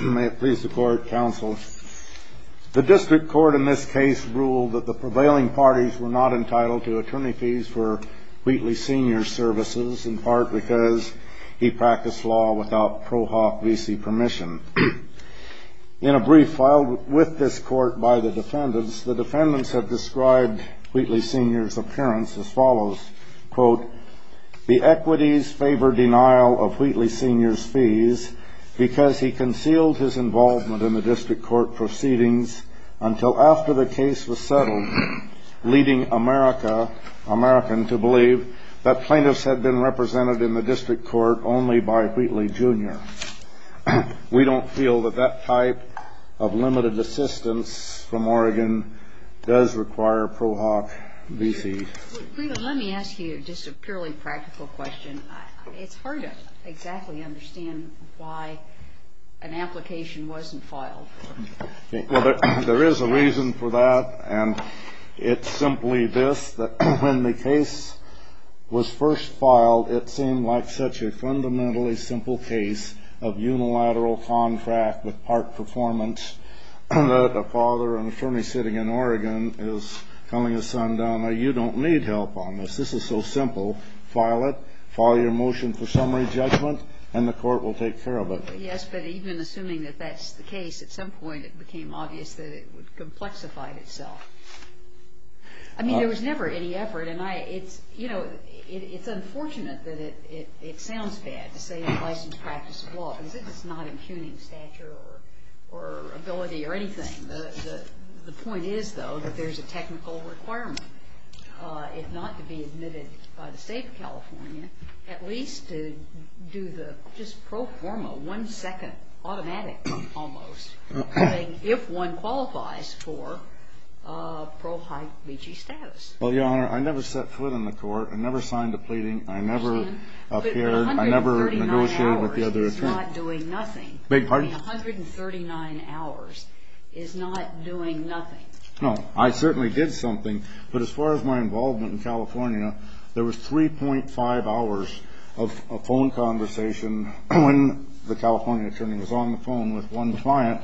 May it please the Court, Counsel. The District Court in this case ruled that the prevailing parties were not entitled to attorney fees for Wheatley Sr.'s services, in part because he practiced law without ProHop VC permission. In a brief filed with this Court by the defendants, the defendants have described Wheatley Sr.'s appearance as follows, The equities favor denial of Wheatley Sr.'s fees because he concealed his involvement in the District Court proceedings until after the case was settled, leading American to believe that plaintiffs had been represented in the District Court only by Wheatley Jr. We don't feel that that type of limited assistance from Oregon does require ProHop VC. Let me ask you just a purely practical question. It's hard to exactly understand why an application wasn't filed. There is a reason for that, and it's simply this, that when the case was first filed, it seemed like such a fundamentally simple case of unilateral contract with part performance that a father, an attorney sitting in Oregon is telling his son, Donna, you don't need help on this. This is so simple. File it. File your motion for summary judgment, and the Court will take care of it. Yes, but even assuming that that's the case, at some point it became obvious that it would complexify itself. I mean, there was never any effort, and it's unfortunate that it sounds bad to say unlicensed practice of law because it's not impugning stature or ability or anything. The point is, though, that there's a technical requirement, if not to be admitted by the State of California, at least to do the just pro forma, one-second, automatic almost, if one qualifies for ProHop VC status. Well, Your Honor, I never set foot in the Court. I never signed a pleading. I never appeared. I never negotiated with the other attorneys. 139 hours is not doing nothing. Beg your pardon? I mean, 139 hours is not doing nothing. No, I certainly did something, but as far as my involvement in California, there was 3.5 hours of phone conversation when the California attorney was on the phone with one client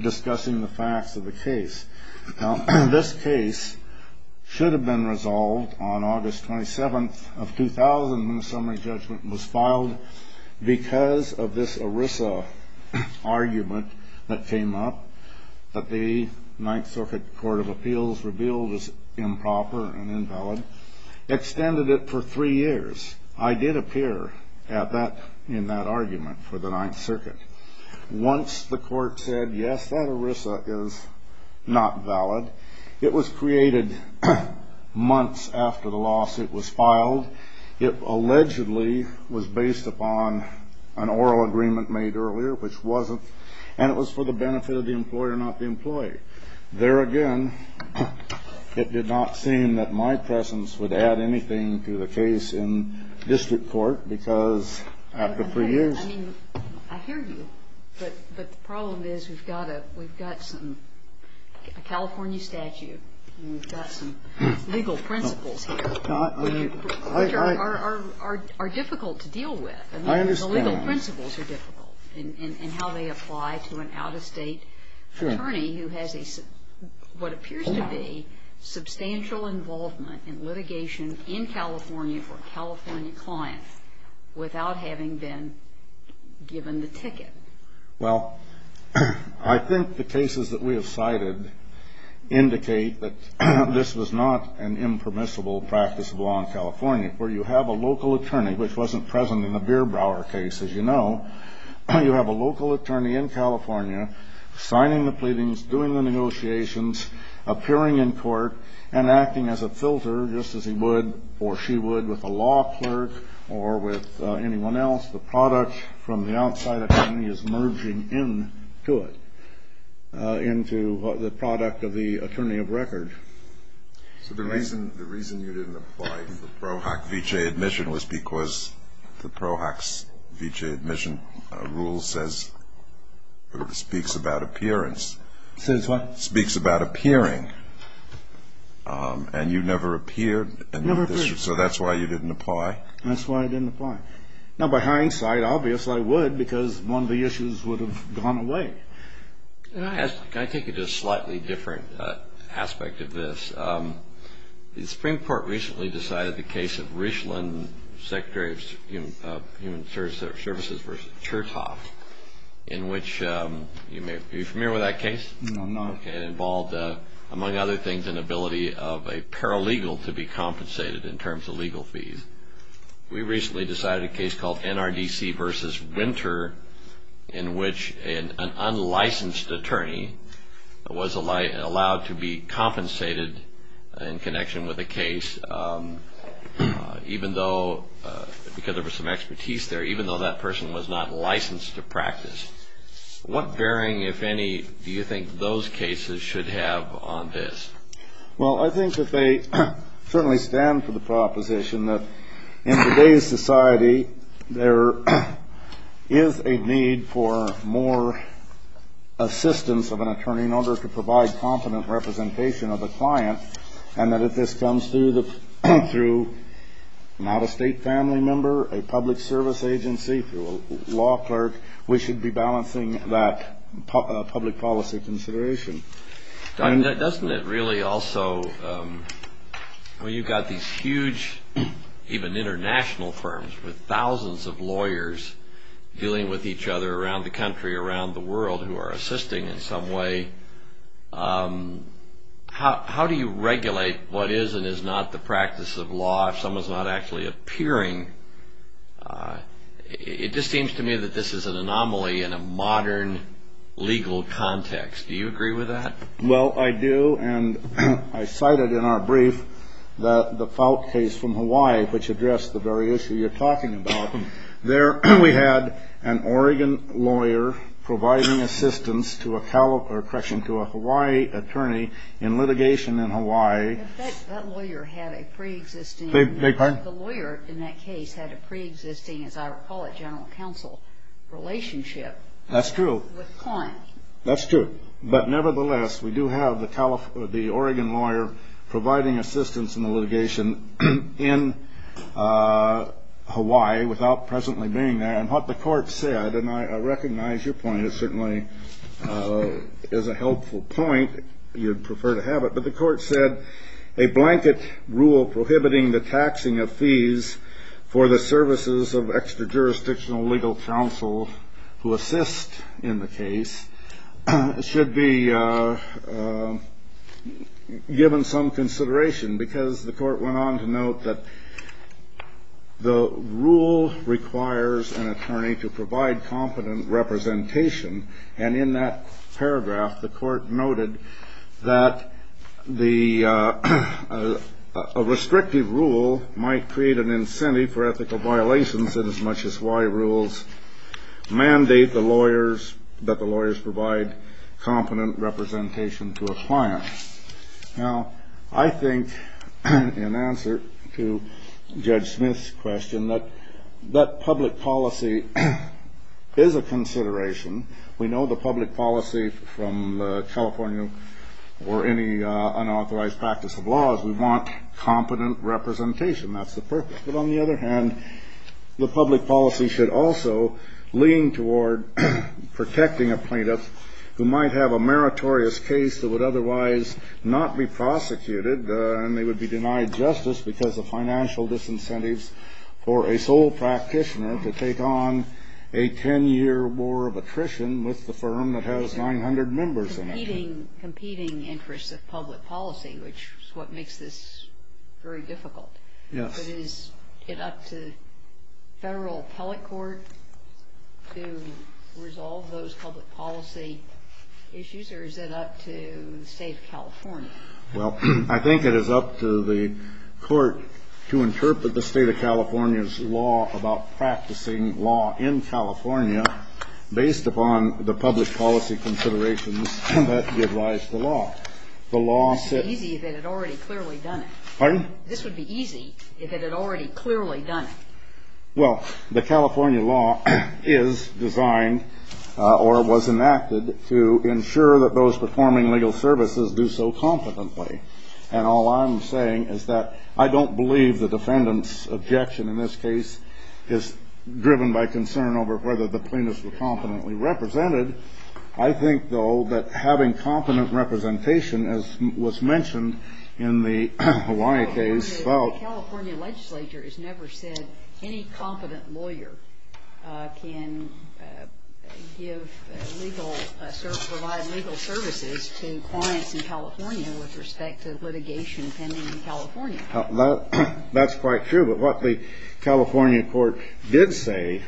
discussing the facts of the case. Now, this case should have been resolved on August 27th of 2000 when the summary judgment was filed because of this ERISA argument that came up that the Ninth Circuit Court of Appeals revealed was improper and invalid, extended it for three years. I did appear in that argument for the Ninth Circuit. Once the court said, yes, that ERISA is not valid, it was created months after the lawsuit was filed. It allegedly was based upon an oral agreement made earlier, which wasn't, and it was for the benefit of the employer, not the employee. There again, it did not seem that my presence would add anything to the case in district court because after three years. I mean, I hear you, but the problem is we've got a California statute and we've got some legal principles here. Which are difficult to deal with. I understand. The legal principles are difficult in how they apply to an out-of-state attorney who has what appears to be substantial involvement in litigation in California for California clients without having been given the ticket. Well, I think the cases that we have cited indicate that this was not an impermissible practice of law in California where you have a local attorney, which wasn't present in the Bierbauer case, as you know. You have a local attorney in California signing the pleadings, doing the negotiations, appearing in court, and acting as a filter, just as he would or she would with a law clerk or with anyone else. The product from the outside attorney is merging into it, into the product of the attorney of record. So the reason you didn't apply to the PROAC v.J. admission was because the PROAC's v.J. admission rule speaks about appearance. It says what? It speaks about appearing. And you never appeared? Never appeared. So that's why you didn't apply? That's why I didn't apply. Now, by hindsight, obviously I would because one of the issues would have gone away. Can I take you to a slightly different aspect of this? The Supreme Court recently decided the case of Richland, Secretary of Human Services v. Chertoff, in which you may be familiar with that case? No, I'm not. It involved, among other things, an ability of a paralegal to be compensated in terms of legal fees. We recently decided a case called NRDC v. Winter, in which an unlicensed attorney was allowed to be compensated in connection with a case, because there was some expertise there, even though that person was not licensed to practice. What bearing, if any, do you think those cases should have on this? Well, I think that they certainly stand for the proposition that in today's society, there is a need for more assistance of an attorney in order to provide competent representation of the client, and that if this comes through not a state family member, a public service agency, through a law clerk, we should be balancing that public policy consideration. Doesn't it really also, when you've got these huge, even international firms, with thousands of lawyers dealing with each other around the country, around the world, who are assisting in some way, how do you regulate what is and is not the practice of law, if someone's not actually appearing? It just seems to me that this is an anomaly in a modern legal context. Do you agree with that? Well, I do, and I cited in our brief the Fout case from Hawaii, which addressed the very issue you're talking about. We had an Oregon lawyer providing assistance to a Hawaii attorney in litigation in Hawaii. That lawyer had a preexisting, as I recall it, general counsel relationship with clients. That's true. But nevertheless, we do have the Oregon lawyer providing assistance in the litigation in Hawaii without presently being there. And what the court said, and I recognize your point is certainly a helpful point, you'd prefer to have it, but the court said a blanket rule prohibiting the taxing of fees for the services of extra-jurisdictional legal counsel who assist in the case should be given some consideration because the court went on to note that the rule requires an attorney to provide competent representation, and in that paragraph the court noted that a restrictive rule might create an incentive for ethical violations inasmuch as Hawaii rules mandate that the lawyers provide competent representation to a client. Now, I think in answer to Judge Smith's question that public policy is a consideration. We know the public policy from California or any unauthorized practice of law is we want competent representation. That's the purpose. But on the other hand, the public policy should also lean toward protecting a plaintiff who might have a meritorious case that would otherwise not be prosecuted and they would be denied justice because of financial disincentives or a sole practitioner to take on a 10-year war of attrition with the firm that has 900 members in it. It's a competing interest of public policy, which is what makes this very difficult. Yes. But is it up to federal appellate court to resolve those public policy issues, or is it up to the State of California? Well, I think it is up to the court to interpret the State of California's law about practicing law in California based upon the public policy considerations that give rise to law. It would be easy if it had already clearly done it. Pardon? This would be easy if it had already clearly done it. Well, the California law is designed or was enacted to ensure that those performing legal services do so competently. And all I'm saying is that I don't believe the defendant's objection in this case is driven by concern over whether the plaintiffs were competently represented. I think, though, that having competent representation, as was mentioned in the Hawaii case. The California legislature has never said any competent lawyer can provide legal services to clients in California That's quite true. But what the California court did say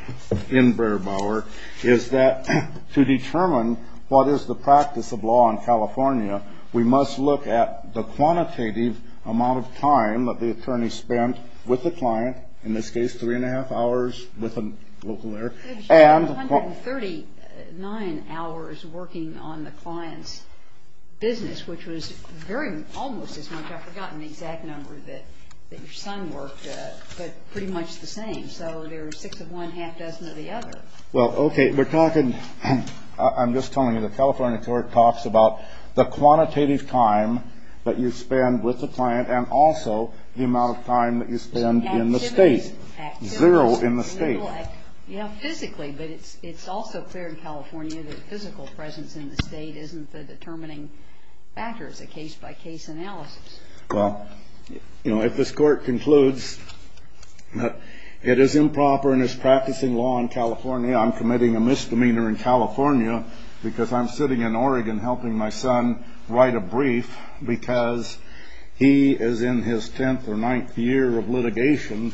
in Breyer-Bauer is that to determine what is the practice of law in California, we must look at the quantitative amount of time that the attorney spent with the client, in this case three and a half hours with a local lawyer, and 139 hours working on the client's business, which was almost as much. I've forgotten the exact number that your son worked, but pretty much the same. So there are six of one, half dozen of the other. Well, okay. We're talking, I'm just telling you, the California court talks about the quantitative time that you spend with the client and also the amount of time that you spend in the state. Activity. Zero in the state. Yeah, physically, but it's also clear in California that physical presence in the state isn't the determining factor. It's a case-by-case analysis. Well, you know, if this court concludes that it is improper and is practicing law in California, I'm committing a misdemeanor in California because I'm sitting in Oregon helping my son write a brief because he is in his tenth or ninth year of litigation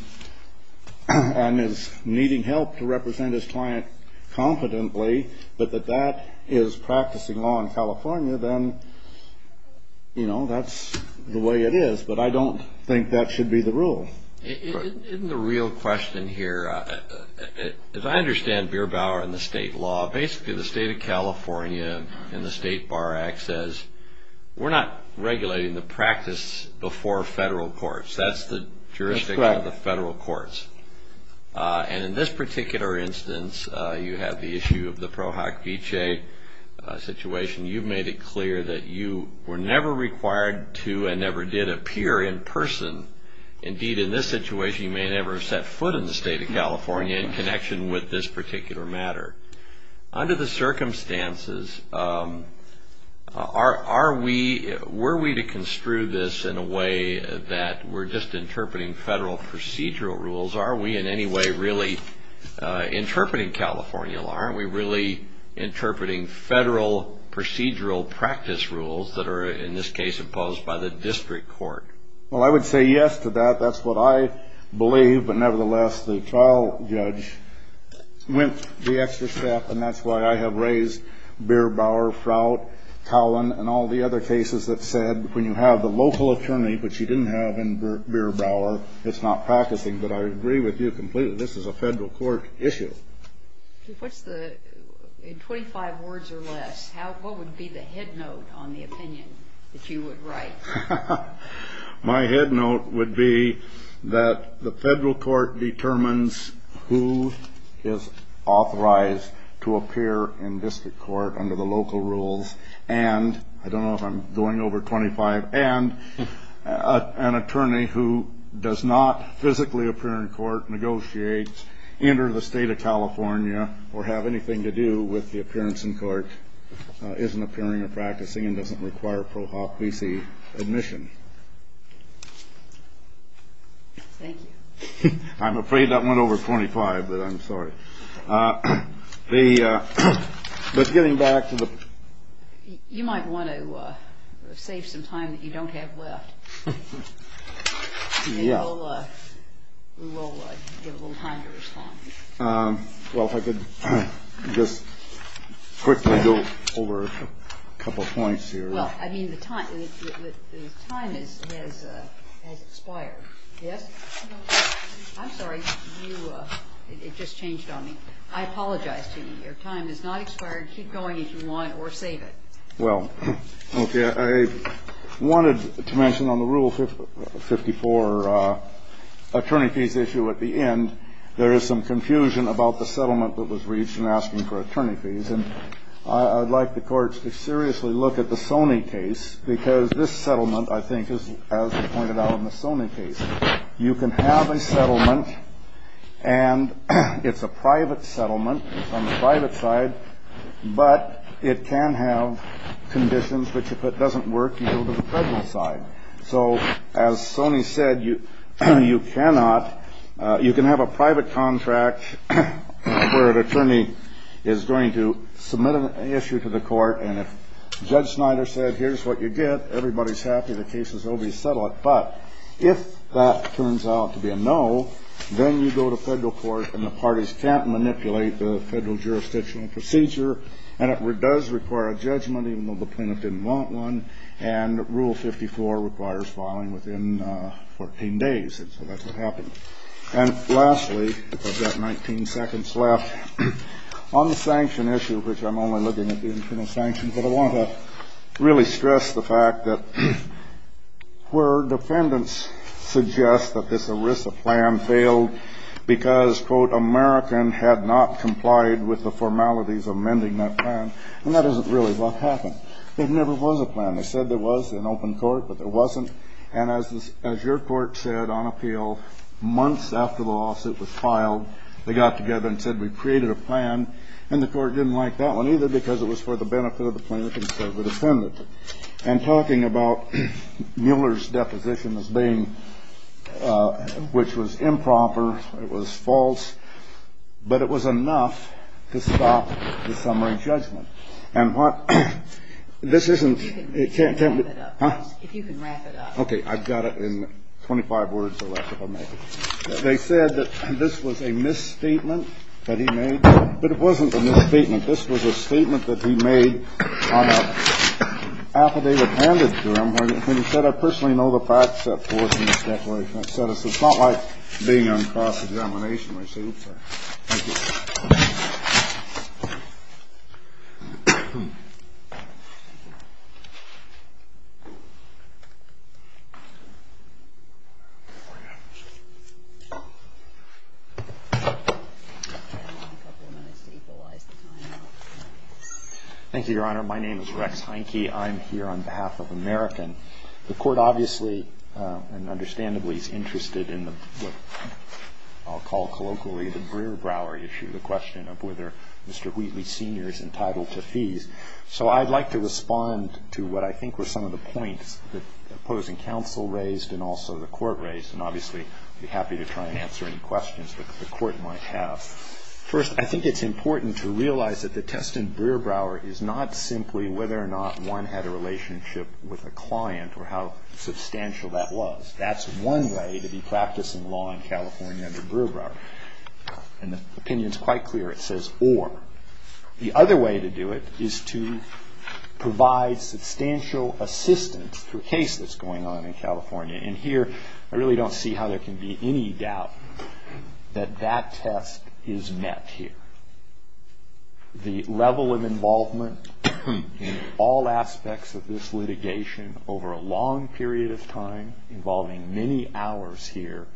and is needing help to represent his client competently, but that that is practicing law in California, then, you know, that's the way it is. But I don't think that should be the rule. Isn't the real question here, as I understand Beer Bauer and the state law, basically the state of California in the State Bar Act says we're not regulating the practice before federal courts. That's the jurisdiction of the federal courts. And in this particular instance, you have the issue of the Pro Hoc Vitae situation. You've made it clear that you were never required to and never did appear in person. Indeed, in this situation, you may never have set foot in the state of California in connection with this particular matter. Under the circumstances, are we, were we to construe this in a way that we're just interpreting federal procedural rules? Are we in any way really interpreting California law? Aren't we really interpreting federal procedural practice rules that are, in this case, imposed by the district court? Well, I would say yes to that. That's what I believe, but nevertheless, the trial judge went the extra step, and that's why I have raised Beer Bauer, Frout, Cowan, and all the other cases that said when you have the local attorney, which you didn't have in Beer Bauer, it's not practicing. But I agree with you completely. This is a federal court issue. In 25 words or less, what would be the head note on the opinion that you would write? My head note would be that the federal court determines who is authorized to appear in district court under the local rules, and I don't know if I'm going over 25, and an attorney who does not physically appear in court, negotiates, enter the state of California, or have anything to do with the appearance in court isn't appearing or practicing and doesn't require Pro Hop V.C. admission. Thank you. I'm afraid that went over 25, but I'm sorry. But getting back to the- You might want to save some time that you don't have left. We will give a little time to respond. Well, if I could just quickly go over a couple points here. Well, I mean, the time has expired. Yes? I'm sorry. It just changed on me. I apologize to you. Your time has not expired. Keep going if you want, or save it. Well, okay. I wanted to mention on the Rule 54 attorney fees issue at the end, there is some confusion about the settlement that was reached in asking for attorney fees. And I'd like the courts to seriously look at the Sony case, because this settlement, I think, as pointed out in the Sony case, you can have a settlement and it's a private settlement on the private side, but it can have conditions that if it doesn't work, you go to the federal side. So as Sony said, you cannot- you can have a private contract where an attorney is going to submit an issue to the court, and if Judge Snyder said, here's what you get, everybody's happy, the case is over, you settle it. But if that turns out to be a no, then you go to federal court, and the parties can't manipulate the federal jurisdictional procedure, and it does require a judgment even though the plaintiff didn't want one, and Rule 54 requires filing within 14 days, and so that's what happened. And lastly, I've got 19 seconds left. On the sanction issue, which I'm only looking at the internal sanctions, but I want to really stress the fact that where defendants suggest that this ERISA plan failed because, quote, American had not complied with the formalities amending that plan, and that isn't really what happened. There never was a plan. They said there was in open court, but there wasn't. And as your court said on appeal, months after the lawsuit was filed, they got together and said, we've created a plan, and the court didn't like that one either because it was for the benefit of the plaintiff instead of the defendant. And talking about Mueller's deposition as being – which was improper, it was false, but it was enough to stop the summary judgment. And what – this isn't – You can wrap it up. Huh? If you can wrap it up. Okay. I've got it in 25 words or less, if I may. They said that this was a misstatement that he made. But it wasn't a misstatement. This was a statement that he made on a affidavit handed to him where he said, I personally know the facts set forth in this declaration. It's not like being on cross-examination where you say, oops, sorry. Thank you. Thank you, Your Honor. My name is Rex Heineke. I'm here on behalf of American. The Court obviously and understandably is interested in what I'll call colloquially the Brewer-Brower issue, the question of whether Mr. Wheatley Sr. is entitled to fees. So I'd like to respond to what I think were some of the points that opposing counsel raised and also the Court raised. And obviously I'd be happy to try and answer any questions that the Court might have. First, I think it's important to realize that the test in Brewer-Brower is not simply whether or not one had a relationship with a client or how substantial that was. That's one way to be practicing law in California under Brewer-Brower. And the opinion is quite clear. It says or. The other way to do it is to provide substantial assistance to a case that's going on in California. And here I really don't see how there can be any doubt that that test is met here. The level of involvement in all aspects of this litigation over a long period of time, involving many hours here,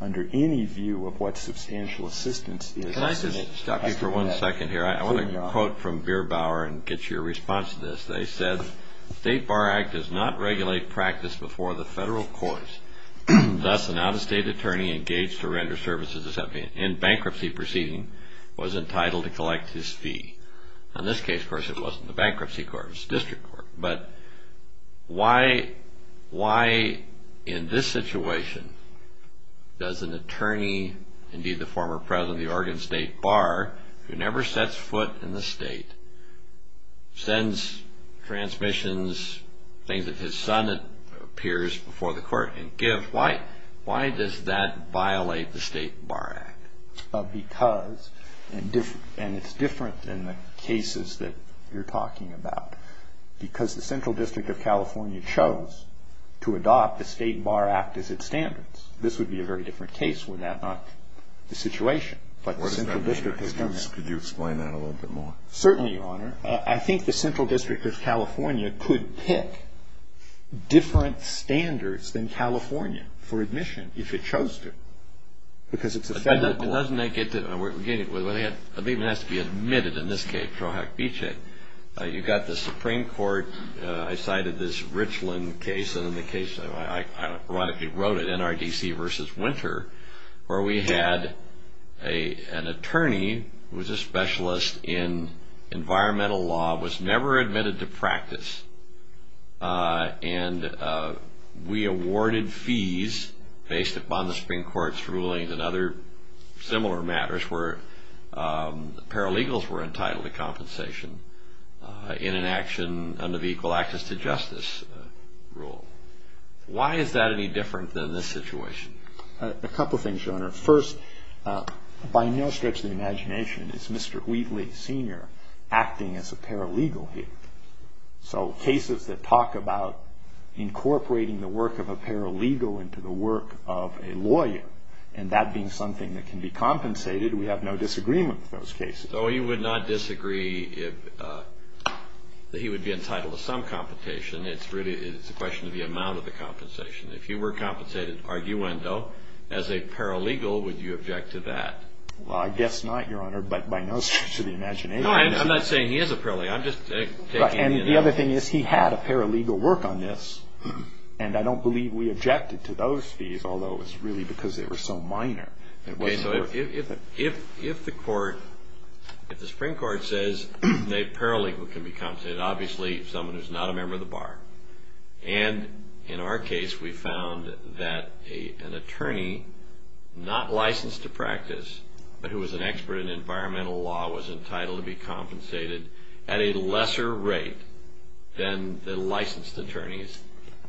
under any view of what substantial assistance is. Can I just stop you for one second here? I want to quote from Brewer-Brower and get your response to this. They said, The State Bar Act does not regulate practice before the federal courts. Thus, an out-of-state attorney engaged to render services in bankruptcy proceeding was entitled to collect his fee. In this case, of course, it wasn't the bankruptcy court. It was the district court. But why in this situation does an attorney, indeed the former president of the Oregon State Bar, who never sets foot in the state, sends transmissions, things that his son appears before the court and gives, why does that violate the State Bar Act? Because, and it's different in the cases that you're talking about, because the Central District of California chose to adopt the State Bar Act as its standards. This would be a very different case were that not the situation. But the Central District has done that. Could you explain that a little bit more? Certainly, Your Honor. I think the Central District of California could pick different standards than California for admission, if it chose to. Because it's a federal court. But doesn't that get to, well, it even has to be admitted in this case. You've got the Supreme Court. I cited this Richland case. I wrote it, NRDC v. Winter, where we had an attorney who was a specialist in environmental law, was never admitted to practice. And we awarded fees based upon the Supreme Court's rulings and other similar matters where paralegals were entitled to compensation in an action under the equal access to justice rule. Why is that any different than this situation? A couple things, Your Honor. First, by no stretch of the imagination is Mr. Wheatley Sr. acting as a paralegal here. So cases that talk about incorporating the work of a paralegal into the work of a lawyer, and that being something that can be compensated, we have no disagreement with those cases. So he would not disagree if he would be entitled to some compensation. It's really a question of the amount of the compensation. If you were compensated, arguendo, as a paralegal, would you object to that? Well, I guess not, Your Honor, by no stretch of the imagination. No, I'm not saying he is a paralegal. I'm just taking any analysis. And the other thing is he had a paralegal work on this. And I don't believe we objected to those fees, although it's really because they were so minor. Okay, so if the Supreme Court says a paralegal can be compensated, obviously someone who is not a member of the bar. And in our case, we found that an attorney, not licensed to practice, but who was an expert in environmental law, was entitled to be compensated at a lesser rate than the licensed attorneys.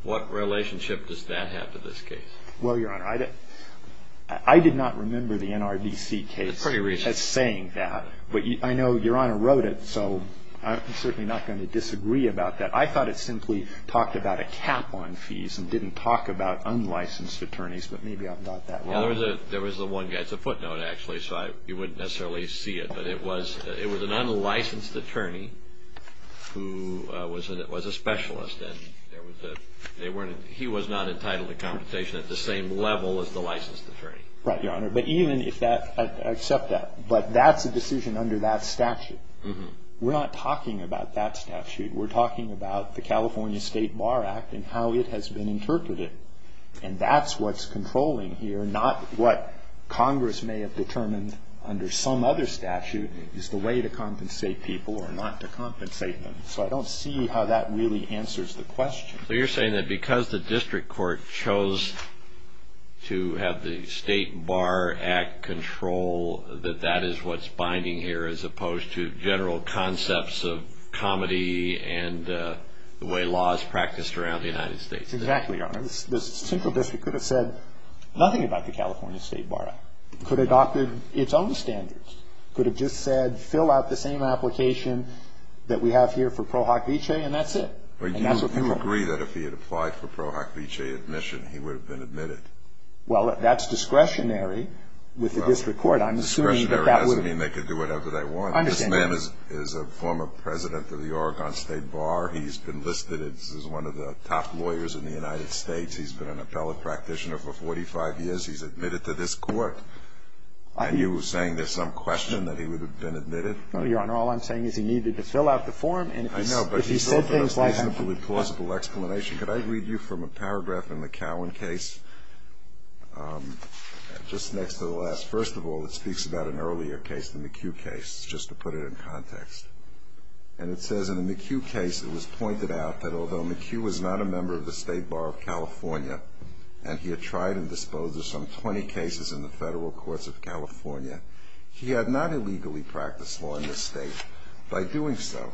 What relationship does that have to this case? Well, Your Honor, I did not remember the NRDC case as saying that. But I know Your Honor wrote it, so I'm certainly not going to disagree about that. I thought it simply talked about a cap on fees and didn't talk about unlicensed attorneys, but maybe I'm not that wrong. Well, there was the one guy. It's a footnote, actually, so you wouldn't necessarily see it. But it was an unlicensed attorney who was a specialist. And he was not entitled to compensation at the same level as the licensed attorney. Right, Your Honor. But even if that, I accept that. But that's a decision under that statute. We're not talking about that statute. We're talking about the California State Bar Act and how it has been interpreted. And that's what's controlling here, not what Congress may have determined under some other statute is the way to compensate people or not to compensate them. So I don't see how that really answers the question. So you're saying that because the district court chose to have the State Bar Act control, that that is what's binding here as opposed to general concepts of comedy and the way law is practiced around the United States? Exactly, Your Honor. The central district could have said nothing about the California State Bar Act, could have adopted its own standards, could have just said fill out the same application that we have here for Pro Hoc Vitae, and that's it. Do you agree that if he had applied for Pro Hoc Vitae admission, he would have been admitted? Well, that's discretionary with the district court. Discretionary doesn't mean they could do whatever they want. I understand that. This man is a former president of the Oregon State Bar. He's been listed as one of the top lawyers in the United States. He's been an appellate practitioner for 45 years. He's admitted to this court. And you're saying there's some question that he would have been admitted? No, Your Honor. All I'm saying is he needed to fill out the form and if he said things like that. I know, but he's offered a reasonably plausible explanation. Could I read you from a paragraph in the Cowan case just next to the last? First of all, it speaks about an earlier case, the McHugh case, just to put it in context. And it says in the McHugh case it was pointed out that although McHugh was not a member of the State Bar of California and he had tried and disposed of some 20 cases in the federal courts of California, he had not illegally practiced law in this state. By doing so,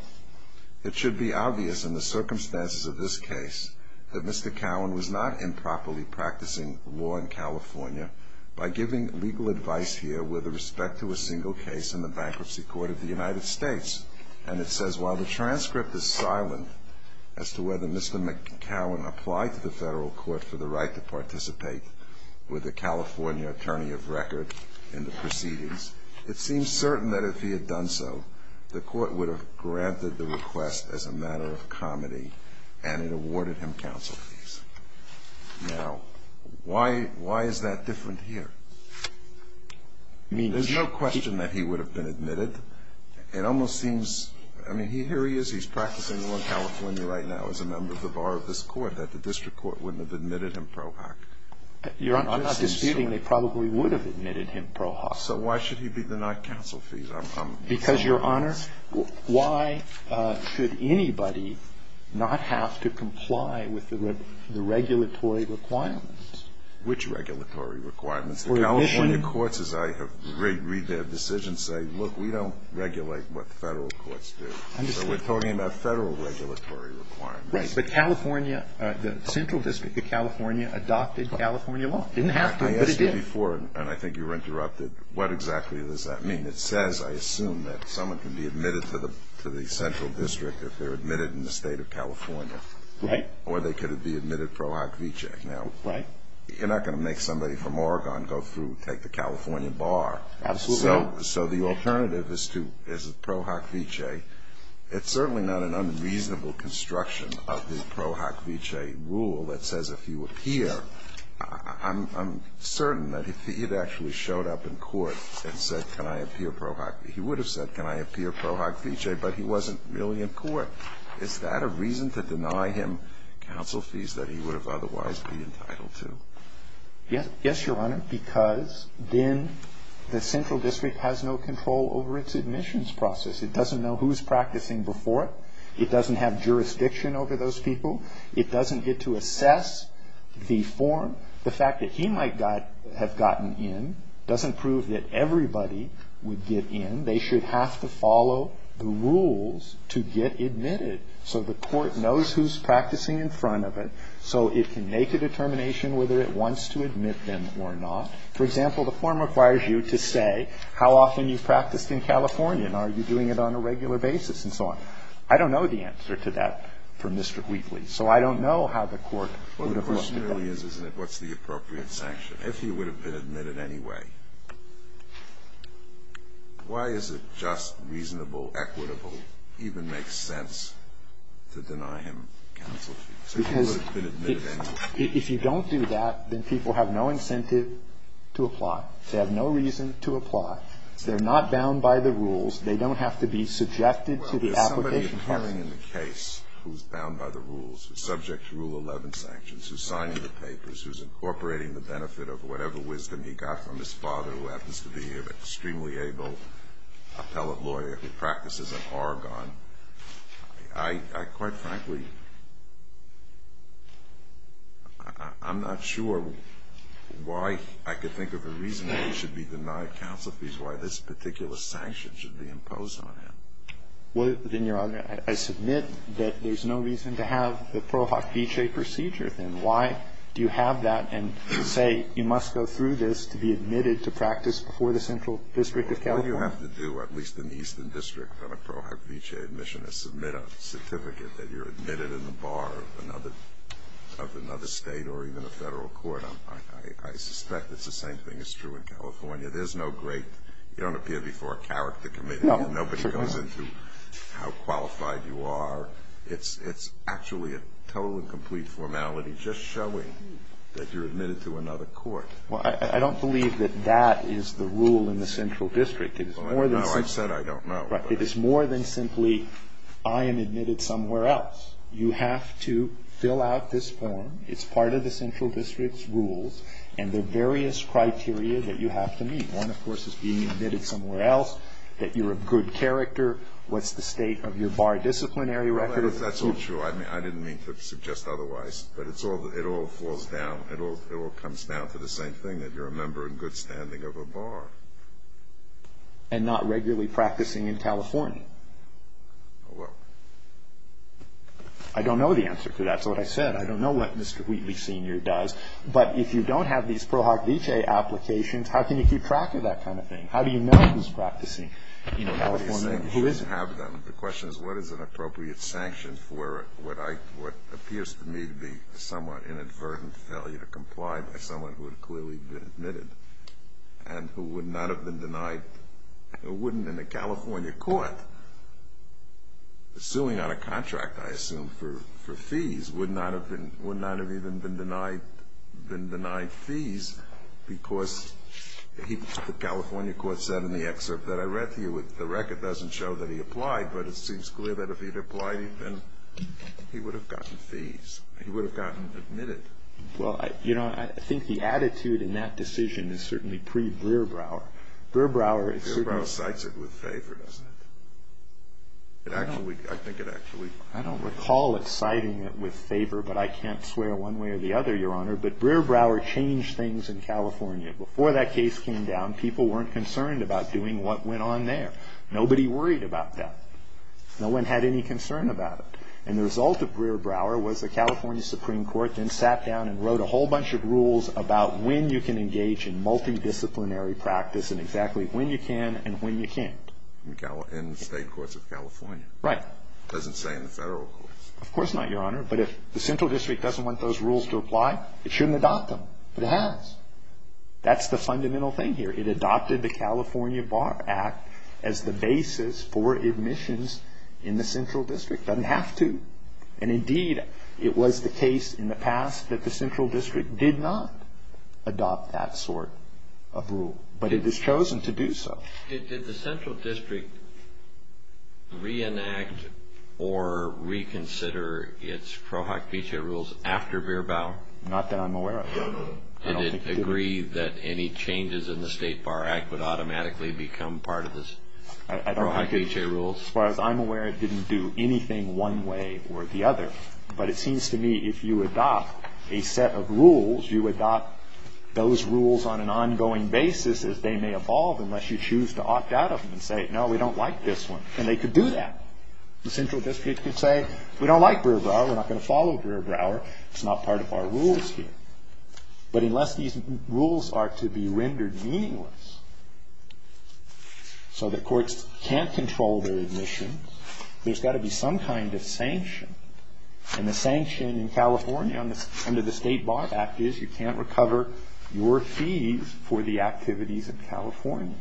it should be obvious in the circumstances of this case that Mr. Cowan was not improperly practicing law in California by giving legal advice here with respect to a single case in the bankruptcy court of the United States. And it says while the transcript is silent as to whether Mr. McCowan applied to the federal court for the right to participate with a California attorney of record in the proceedings, it seems certain that if he had done so, the court would have granted the request as a matter of comedy and it awarded him counsel fees. Now, why is that different here? I mean, there's no question that he would have been admitted. It almost seems – I mean, here he is. He's practicing law in California right now as a member of the bar of this court, that the district court wouldn't have admitted him pro hoc. Your Honor, I'm not disputing they probably would have admitted him pro hoc. So why should he be denied counsel fees? Because, Your Honor, why should anybody not have to comply with the regulatory requirements? Which regulatory requirements? The California courts, as I read their decisions, say, look, we don't regulate what federal courts do. So we're talking about federal regulatory requirements. Right. But California – the central district of California adopted California law. It didn't have to, but it did. I asked you before, and I think you were interrupted, what exactly does that mean? It says, I assume, that someone can be admitted to the central district if they're admitted in the State of California. Right. Or they could be admitted pro hoc vicee. Right. Now, you're not going to make somebody from Oregon go through and take the California bar. Absolutely not. So the alternative is pro hoc vicee. It's certainly not an unreasonable construction of the pro hoc vicee rule that says if you appear – I'm certain that if he had actually showed up in court and said, can I appear pro hoc, he would have said, can I appear pro hoc vicee, but he wasn't really in court. Is that a reason to deny him counsel fees that he would have otherwise been entitled to? Yes, Your Honor, because then the central district has no control over its admissions process. It doesn't know who's practicing before it. It doesn't have jurisdiction over those people. It doesn't get to assess the form. The fact that he might have gotten in doesn't prove that everybody would get in. They should have to follow the rules to get admitted so the court knows who's practicing in front of it so it can make a determination whether it wants to admit them or not. For example, the form requires you to say how often you've practiced in California and are you doing it on a regular basis and so on. I don't know the answer to that from Mr. Wheatley. So I don't know how the court would have looked at that. Well, the question really is, isn't it, what's the appropriate sanction? If he would have been admitted anyway, why is it just, reasonable, equitable, even makes sense to deny him counsel fees? Because if you don't do that, then people have no incentive to apply. They have no reason to apply. They're not bound by the rules. They don't have to be subjected to the application process. Well, there's somebody appearing in the case who's bound by the rules, who's subject to Rule 11 sanctions, who's signing the papers, who's incorporating the benefit of whatever wisdom he got from his father, who happens to be an extremely able appellate lawyer who practices in Oregon. I quite frankly, I'm not sure why I could think of a reason why he should be denied counsel fees, why this particular sanction should be imposed on him. Well, then, Your Honor, I submit that there's no reason to have the Pro Hoc Vitae procedure, then. Why do you have that and say you must go through this to be admitted to practice before the Central District of California? What do you have to do, at least in the Eastern District, on a Pro Hoc Vitae admission to submit a certificate that you're admitted in the bar of another State or even a Federal Court? I suspect it's the same thing is true in California. There's no great, you don't appear before a character committee, and nobody goes into how qualified you are. It's actually a total and complete formality just showing that you're admitted to another court. Well, I don't believe that that is the rule in the Central District. It is more than simply – Well, I know. I've said I don't know. Right. It is more than simply I am admitted somewhere else. You have to fill out this form. It's part of the Central District's rules, and there are various criteria that you have to meet. One, of course, is being admitted somewhere else, that you're a good character, what's the state of your bar disciplinary record. That's not true. I didn't mean to suggest otherwise, but it all falls down. It all comes down to the same thing, that you're a member in good standing of a bar. And not regularly practicing in California. Well. I don't know the answer to that. That's what I said. I don't know what Mr. Wheatley, Sr. does. But if you don't have these Pro Hoc Vitae applications, how can you keep track of that kind of thing? How do you know who's practicing in California and who isn't? The question is what is an appropriate sanction for what appears to me to be a somewhat inadvertent failure to comply by someone who had clearly been admitted and who would not have been denied or wouldn't in a California court, suing on a contract, I assume, for fees, would not have even been denied fees because the California court said in the excerpt that I read to you, the record doesn't show that he applied, but it seems clear that if he'd applied, he would have gotten fees, he would have gotten admitted. Well, you know, I think the attitude in that decision is certainly pre-Brearbrower. Brearbrower cites it with favor, doesn't it? I think it actually... I don't recall it citing it with favor, but I can't swear one way or the other, Your Honor, but Brearbrower changed things in California. Before that case came down, people weren't concerned about doing what went on there. Nobody worried about that. No one had any concern about it. And the result of Brearbrower was the California Supreme Court then sat down and wrote a whole bunch of rules about when you can engage in multidisciplinary practice and exactly when you can and when you can't. In the state courts of California. Right. It doesn't say in the federal courts. Of course not, Your Honor, but if the central district doesn't want those rules to apply, it shouldn't adopt them, but it has. That's the fundamental thing here. It adopted the California Bar Act as the basis for admissions in the central district. It doesn't have to. And, indeed, it was the case in the past that the central district did not adopt that sort of rule, but it has chosen to do so. Did the central district reenact or reconsider its Cro-Hak-Piche rules after Brearbrower? Not that I'm aware of. I don't think it did. Did it agree that any changes in the State Bar Act would automatically become part of the Cro-Hak-Piche rules? As far as I'm aware, it didn't do anything one way or the other, but it seems to me if you adopt a set of rules, you adopt those rules on an ongoing basis as they may evolve unless you choose to opt out of them and say, no, we don't like this one. And they could do that. The central district could say, we don't like Brearbrower. We're not going to follow Brearbrower. It's not part of our rules here. But unless these rules are to be rendered meaningless so that courts can't control their admissions, there's got to be some kind of sanction. And the sanction in California under the State Bar Act is you can't recover your fees for the activities in California.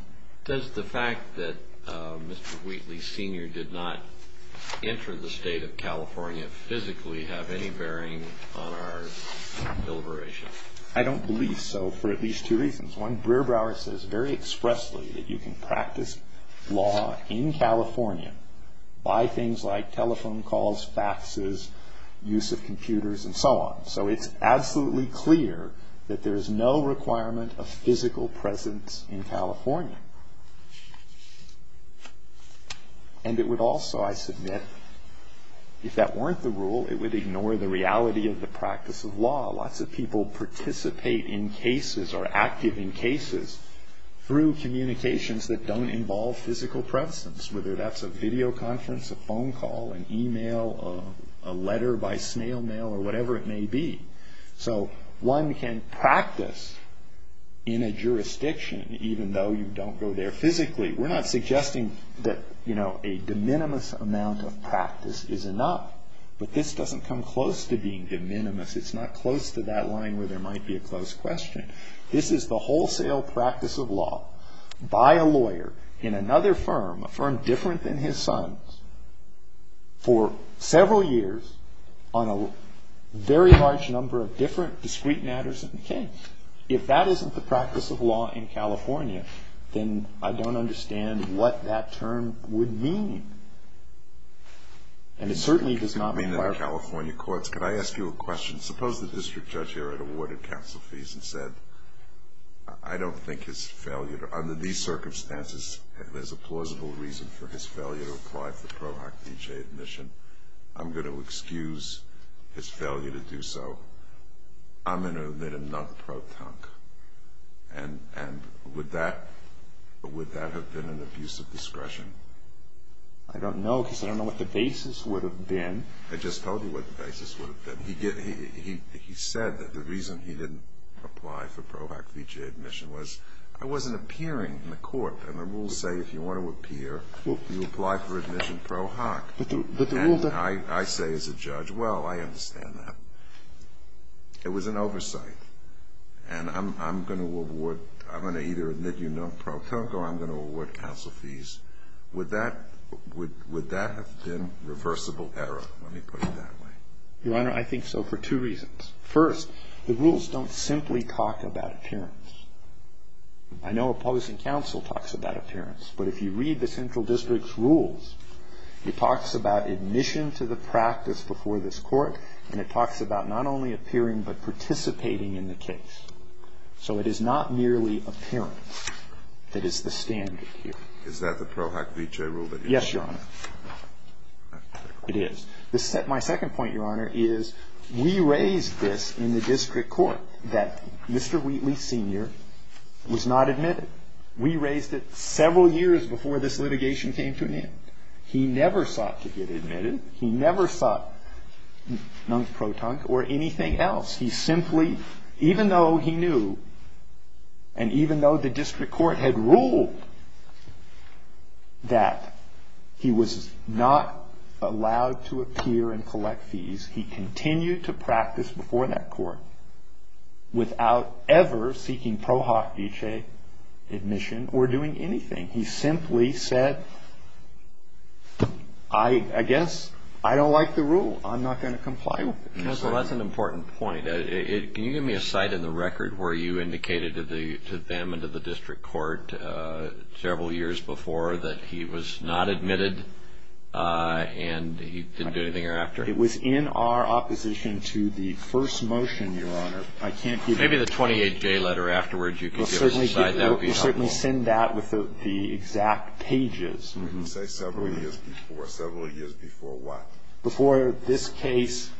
Does the fact that Mr. Wheatley Sr. did not enter the state of California physically have any bearing on our deliberation? I don't believe so for at least two reasons. One, Brearbrower says very expressly that you can practice law in California by things like telephone calls, faxes, use of computers, and so on. So it's absolutely clear that there's no requirement of physical presence in California. And it would also, I submit, if that weren't the rule, it would ignore the reality of the practice of law. Lots of people participate in cases or are active in cases through communications that don't involve physical presence, whether that's a video conference, a phone call, an email, a letter by snail mail, or whatever it may be. So one can practice in a jurisdiction even though you don't go there physically. We're not suggesting that a de minimis amount of practice is enough. But this doesn't come close to being de minimis. It's not close to that line where there might be a close question. This is the wholesale practice of law. Buy a lawyer in another firm, a firm different than his son's, for several years on a very large number of different discreet matters of the case. If that isn't the practice of law in California, then I don't understand what that term would mean. And it certainly does not require. I mean, in the California courts. Could I ask you a question? Suppose the district judge here had awarded counsel fees and said, I don't think his failure to, under these circumstances, there's a plausible reason for his failure to apply for the PROHOC-BJ admission. I'm going to excuse his failure to do so. I'm going to admit him not pro-tunk. And would that have been an abuse of discretion? I don't know because I don't know what the basis would have been. I just told you what the basis would have been. He said that the reason he didn't apply for PROHOC-BJ admission was I wasn't appearing in the court. And the rules say if you want to appear, you apply for admission PROHOC. And I say as a judge, well, I understand that. It was an oversight. And I'm going to award, I'm going to either admit you not pro-tunk or I'm going to award counsel fees. Would that have been reversible error? Let me put it that way. Your Honor, I think so for two reasons. First, the rules don't simply talk about appearance. I know opposing counsel talks about appearance. But if you read the central district's rules, it talks about admission to the practice before this court. And it talks about not only appearing but participating in the case. So it is not merely appearance that is the standard here. Is that the PROHOC-BJ rule that you're talking about? Yes, Your Honor. It is. My second point, Your Honor, is we raised this in the district court that Mr. Wheatley Sr. was not admitted. We raised it several years before this litigation came to an end. He never sought to get admitted. He never sought non-pro-tunk or anything else. He simply, even though he knew and even though the district court had ruled that he was not allowed to appear and collect fees, he continued to practice before that court without ever seeking PROHOC-BJ admission or doing anything. He simply said, I guess I don't like the rule. I'm not going to comply with it. Counsel, that's an important point. Can you give me a site in the record where you indicated to them and to the district court several years before that he was not admitted and he didn't do anything thereafter? It was in our opposition to the first motion, Your Honor. I can't give you that. Maybe the 28-J letter afterwards you could give us a site that would be helpful. We'll certainly send that with the exact pages. You say several years before. Several years before what? Before this case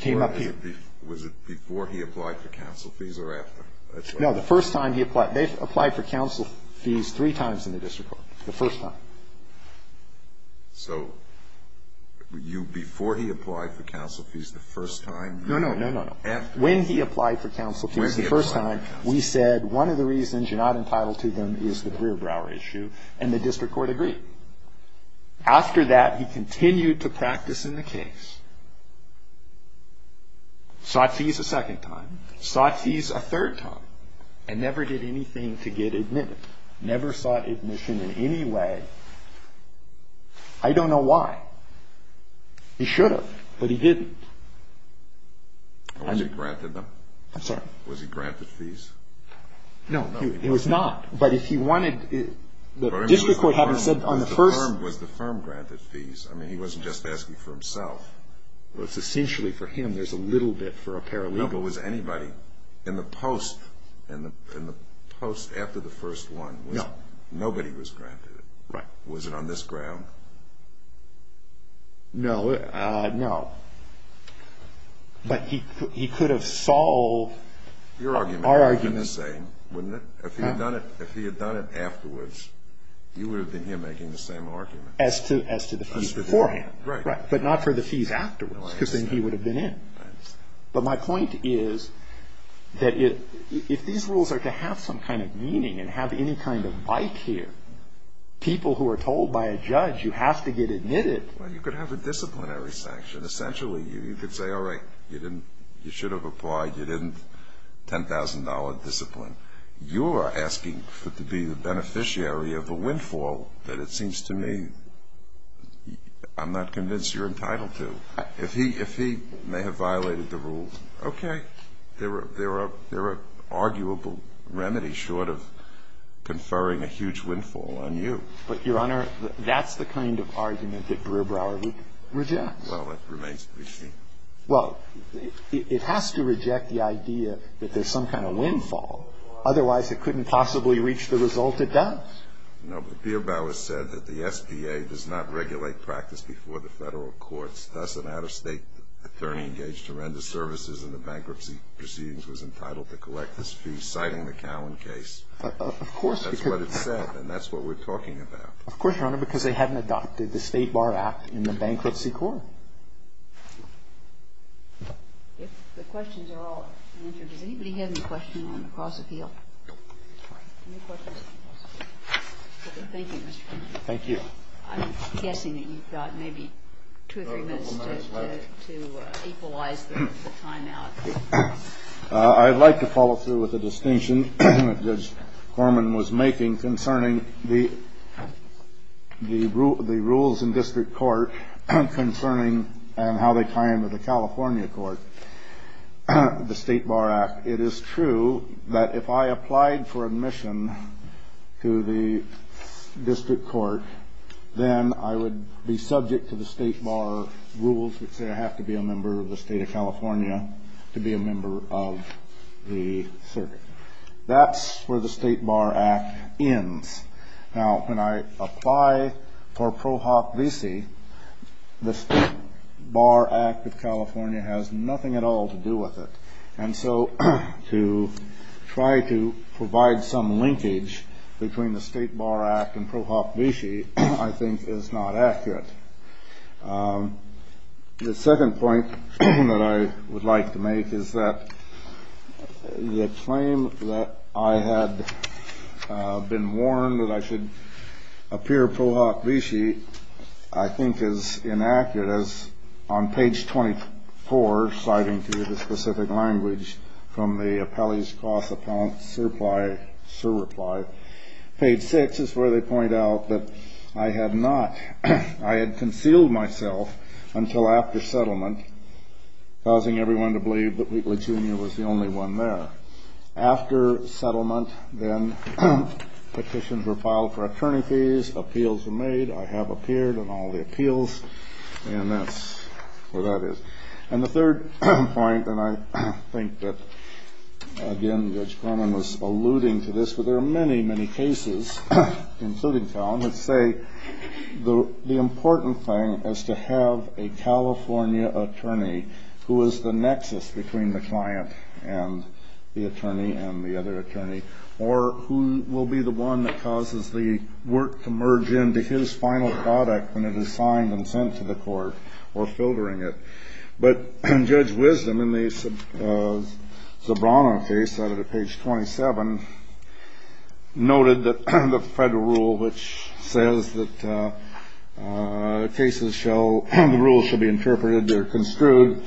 came up here. Was it before he applied for counsel fees or after? No, the first time he applied. They applied for counsel fees three times in the district court, the first time. So before he applied for counsel fees the first time? No, no, no, no, no. When he applied for counsel fees the first time, we said one of the reasons you're not entitled to them is the Brewer-Brower issue, and the district court agreed. After that, he continued to practice in the case, sought fees a second time, sought fees a third time, and never did anything to get admitted, never sought admission in any way. I don't know why. He should have, but he didn't. Was he granted them? I'm sorry? Was he granted fees? No, he was not. But if he wanted – the district court hadn't said on the first – Was the firm granted fees? I mean, he wasn't just asking for himself. Well, it's essentially for him. There's a little bit for a paralegal. No, but was anybody in the post after the first one? No. Nobody was granted it? Right. Was it on this ground? No, no. But he could have solved our argument. Your argument would have been the same, wouldn't it? If he had done it afterwards, you would have been here making the same argument. As to the fees beforehand. Right. But not for the fees afterwards, because then he would have been in. But my point is that if these rules are to have some kind of meaning and have any kind of bite here, people who are told by a judge you have to get admitted – Well, you could have a disciplinary sanction. Essentially, you could say, all right, you didn't – you should have applied. You didn't – $10,000 discipline. You're asking to be the beneficiary of the windfall that it seems to me I'm not convinced you're entitled to. If he may have violated the rules, okay. There are arguable remedies short of conferring a huge windfall on you. But, Your Honor, that's the kind of argument that Brewer-Brower rejects. Well, it remains to be seen. Well, it has to reject the idea that there's some kind of windfall. Otherwise, it couldn't possibly reach the result it does. No, but Beer-Bower said that the SBA does not regulate practice before the federal courts. Thus, an out-of-state attorney engaged horrendous services in the bankruptcy proceedings was entitled to collect this fee, citing the Cowan case. Of course. That's what it said, and that's what we're talking about. Of course, Your Honor, because they hadn't adopted the State Bar Act in the Bankruptcy Court. The questions are all answered. Does anybody have any questions on the cross-appeal? No. Any questions on the cross-appeal? Okay. Thank you, Mr. Chairman. Thank you. I'm guessing that you've got maybe two or three minutes to equalize the timeout. I'd like to follow through with a distinction that Judge Horman was making concerning the rules in district court, concerning how they tie into the California court, the State Bar Act. It is true that if I applied for admission to the district court, then I would be subject to the State Bar rules, which say I have to be a member of the State of California to be a member of the circuit. That's where the State Bar Act ends. Now, when I apply for pro hoc visi, the State Bar Act of California has nothing at all to do with it. And so to try to provide some linkage between the State Bar Act and pro hoc visi, I think, is not accurate. The second point that I would like to make is that the claim that I had been warned that I should appear pro hoc visi, I think, is inaccurate. As on page 24, citing to you the specific language from the appellee's cost appellant's surpli, surrepli, page 6 is where they point out that I had not, I had concealed myself until after settlement, causing everyone to believe that Wheatley, Jr. was the only one there. After settlement, then petitions were filed for attorney fees. Appeals were made. I have appeared in all the appeals. And that's where that is. And the third point, and I think that, again, Judge Corman was alluding to this, but there are many, many cases, including found, that say the important thing is to have a California attorney who is the nexus between the client and the attorney and the other attorney or who will be the one that causes the work to merge into his final product when it is signed and sent to the court or filtering it. But Judge Wisdom in the Sobrano case, cited at page 27, noted that the federal rule which says that cases shall, the rule should be interpreted or construed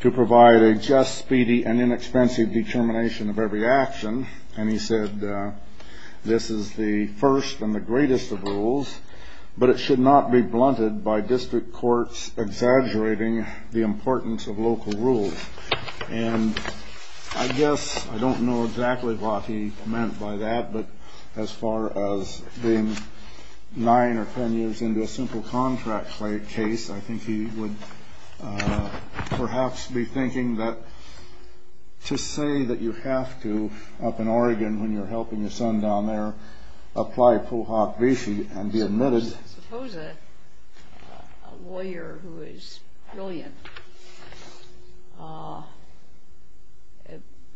to provide a just, speedy, and inexpensive determination of every action. And he said this is the first and the greatest of rules, but it should not be blunted by district courts exaggerating the importance of local rules. And I guess I don't know exactly what he meant by that, but as far as being nine or ten years into a simple contract case, I think he would perhaps be thinking that to say that you have to, up in Oregon, when you're helping your son down there, apply pohawk vishi and be admitted. Suppose a lawyer who is brilliant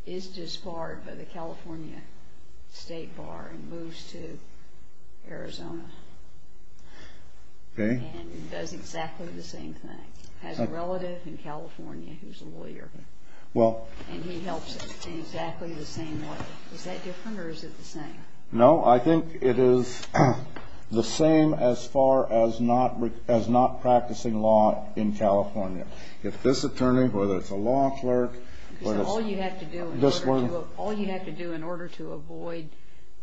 is disbarred by the California State Bar and moves to Arizona. And does exactly the same thing. Has a relative in California who's a lawyer. And he helps in exactly the same way. Is that different or is it the same? No, I think it is the same as far as not practicing law in California. If this attorney, whether it's a law clerk. All you have to do in order to avoid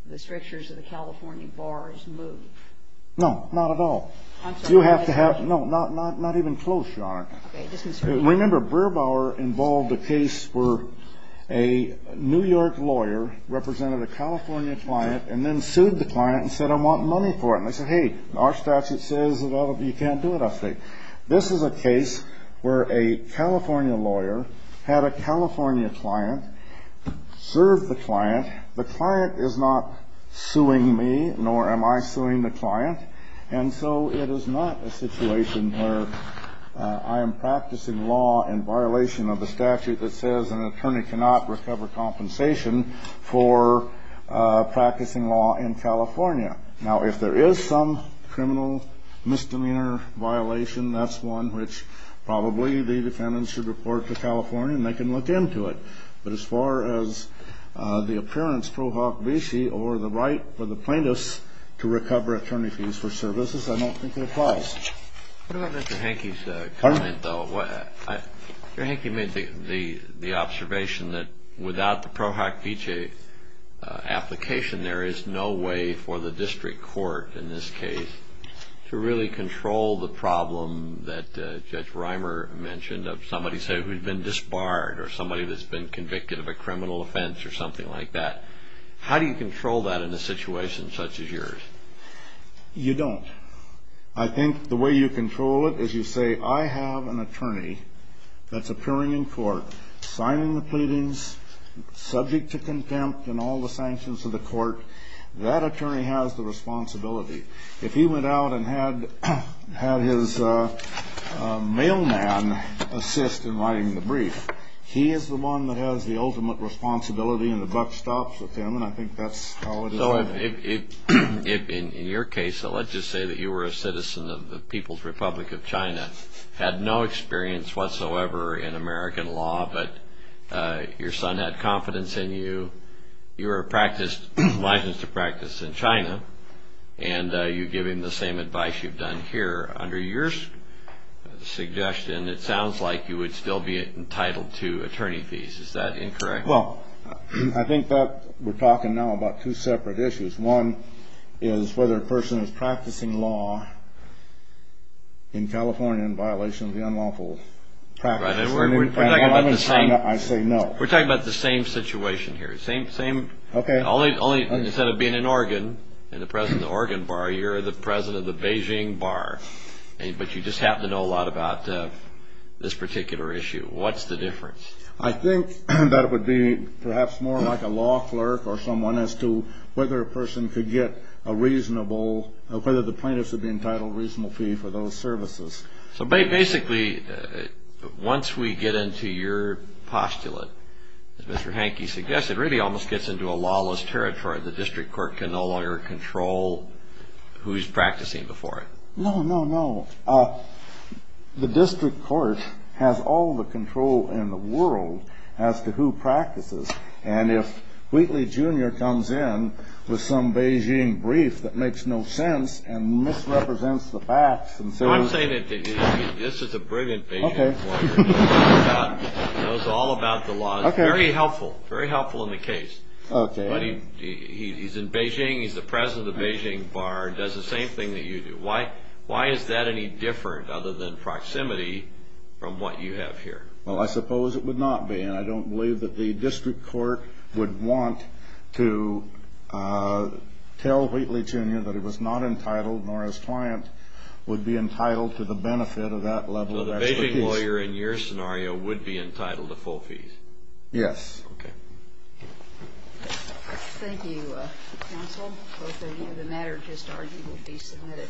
the strictures of the California Bar is move. No, not at all. You have to have, no, not even close, Your Honor. I'm sorry. Remember, Brubauer involved a case where a New York lawyer represented a California client and then sued the client and said, I want money for it. And they said, hey, our statute says that you can't do it, I say. This is a case where a California lawyer had a California client, served the client. The client is not suing me, nor am I suing the client. And so it is not a situation where I am practicing law in violation of the statute that says an attorney cannot recover compensation for practicing law in California. Now, if there is some criminal misdemeanor violation, that's one which probably the defendants should report to California and they can look into it. But as far as the appearance pro hoc vici or the right for the plaintiffs to recover attorney fees for services, I don't think it applies. What about Mr. Hanke's comment, though? Mr. Hanke made the observation that without the pro hoc vici application, there is no way for the district court in this case to really control the problem that Judge Reimer mentioned of somebody, say, who's been disbarred or somebody that's been convicted of a criminal offense or something like that. How do you control that in a situation such as yours? You don't. I think the way you control it is you say, I have an attorney that's appearing in court, signing the pleadings, subject to contempt and all the sanctions of the court. That attorney has the responsibility. If he went out and had his mailman assist in writing the brief, he is the one that has the ultimate responsibility and the buck stops with him, and I think that's how it is. So in your case, let's just say that you were a citizen of the People's Republic of China, had no experience whatsoever in American law, but your son had confidence in you, you were licensed to practice in China, and you give him the same advice you've done here. Under your suggestion, it sounds like you would still be entitled to attorney fees. Is that incorrect? Well, I think that we're talking now about two separate issues. One is whether a person is practicing law in California in violation of the unlawful practice. I say no. We're talking about the same situation here. Okay. Instead of being in Oregon and the president of the Oregon Bar, you're the president of the Beijing Bar, but you just happen to know a lot about this particular issue. What's the difference? I think that it would be perhaps more like a law clerk or someone as to whether a person could get a reasonable, whether the plaintiff should be entitled to a reasonable fee for those services. So basically, once we get into your postulate, as Mr. Hanke suggested, it really almost gets into a lawless territory. The district court can no longer control who's practicing before it. No, no, no. The district court has all the control in the world as to who practices, and if Wheatley Jr. comes in with some Beijing brief that makes no sense and misrepresents the facts and so on. I'm saying that this is a brilliant Beijing lawyer. Okay. He knows all about the law. Okay. Very helpful. Very helpful in the case. Okay. He's in Beijing. He's the president of the Beijing Bar and does the same thing that you do. Why is that any different other than proximity from what you have here? Well, I suppose it would not be, and I don't believe that the district court would want to tell Wheatley Jr. that he was not entitled nor his client would be entitled to the benefit of that level of expertise. So the Beijing lawyer in your scenario would be entitled to full fees? Yes. Okay. Thank you, counsel. The matter just argued would be submitted. Thank you.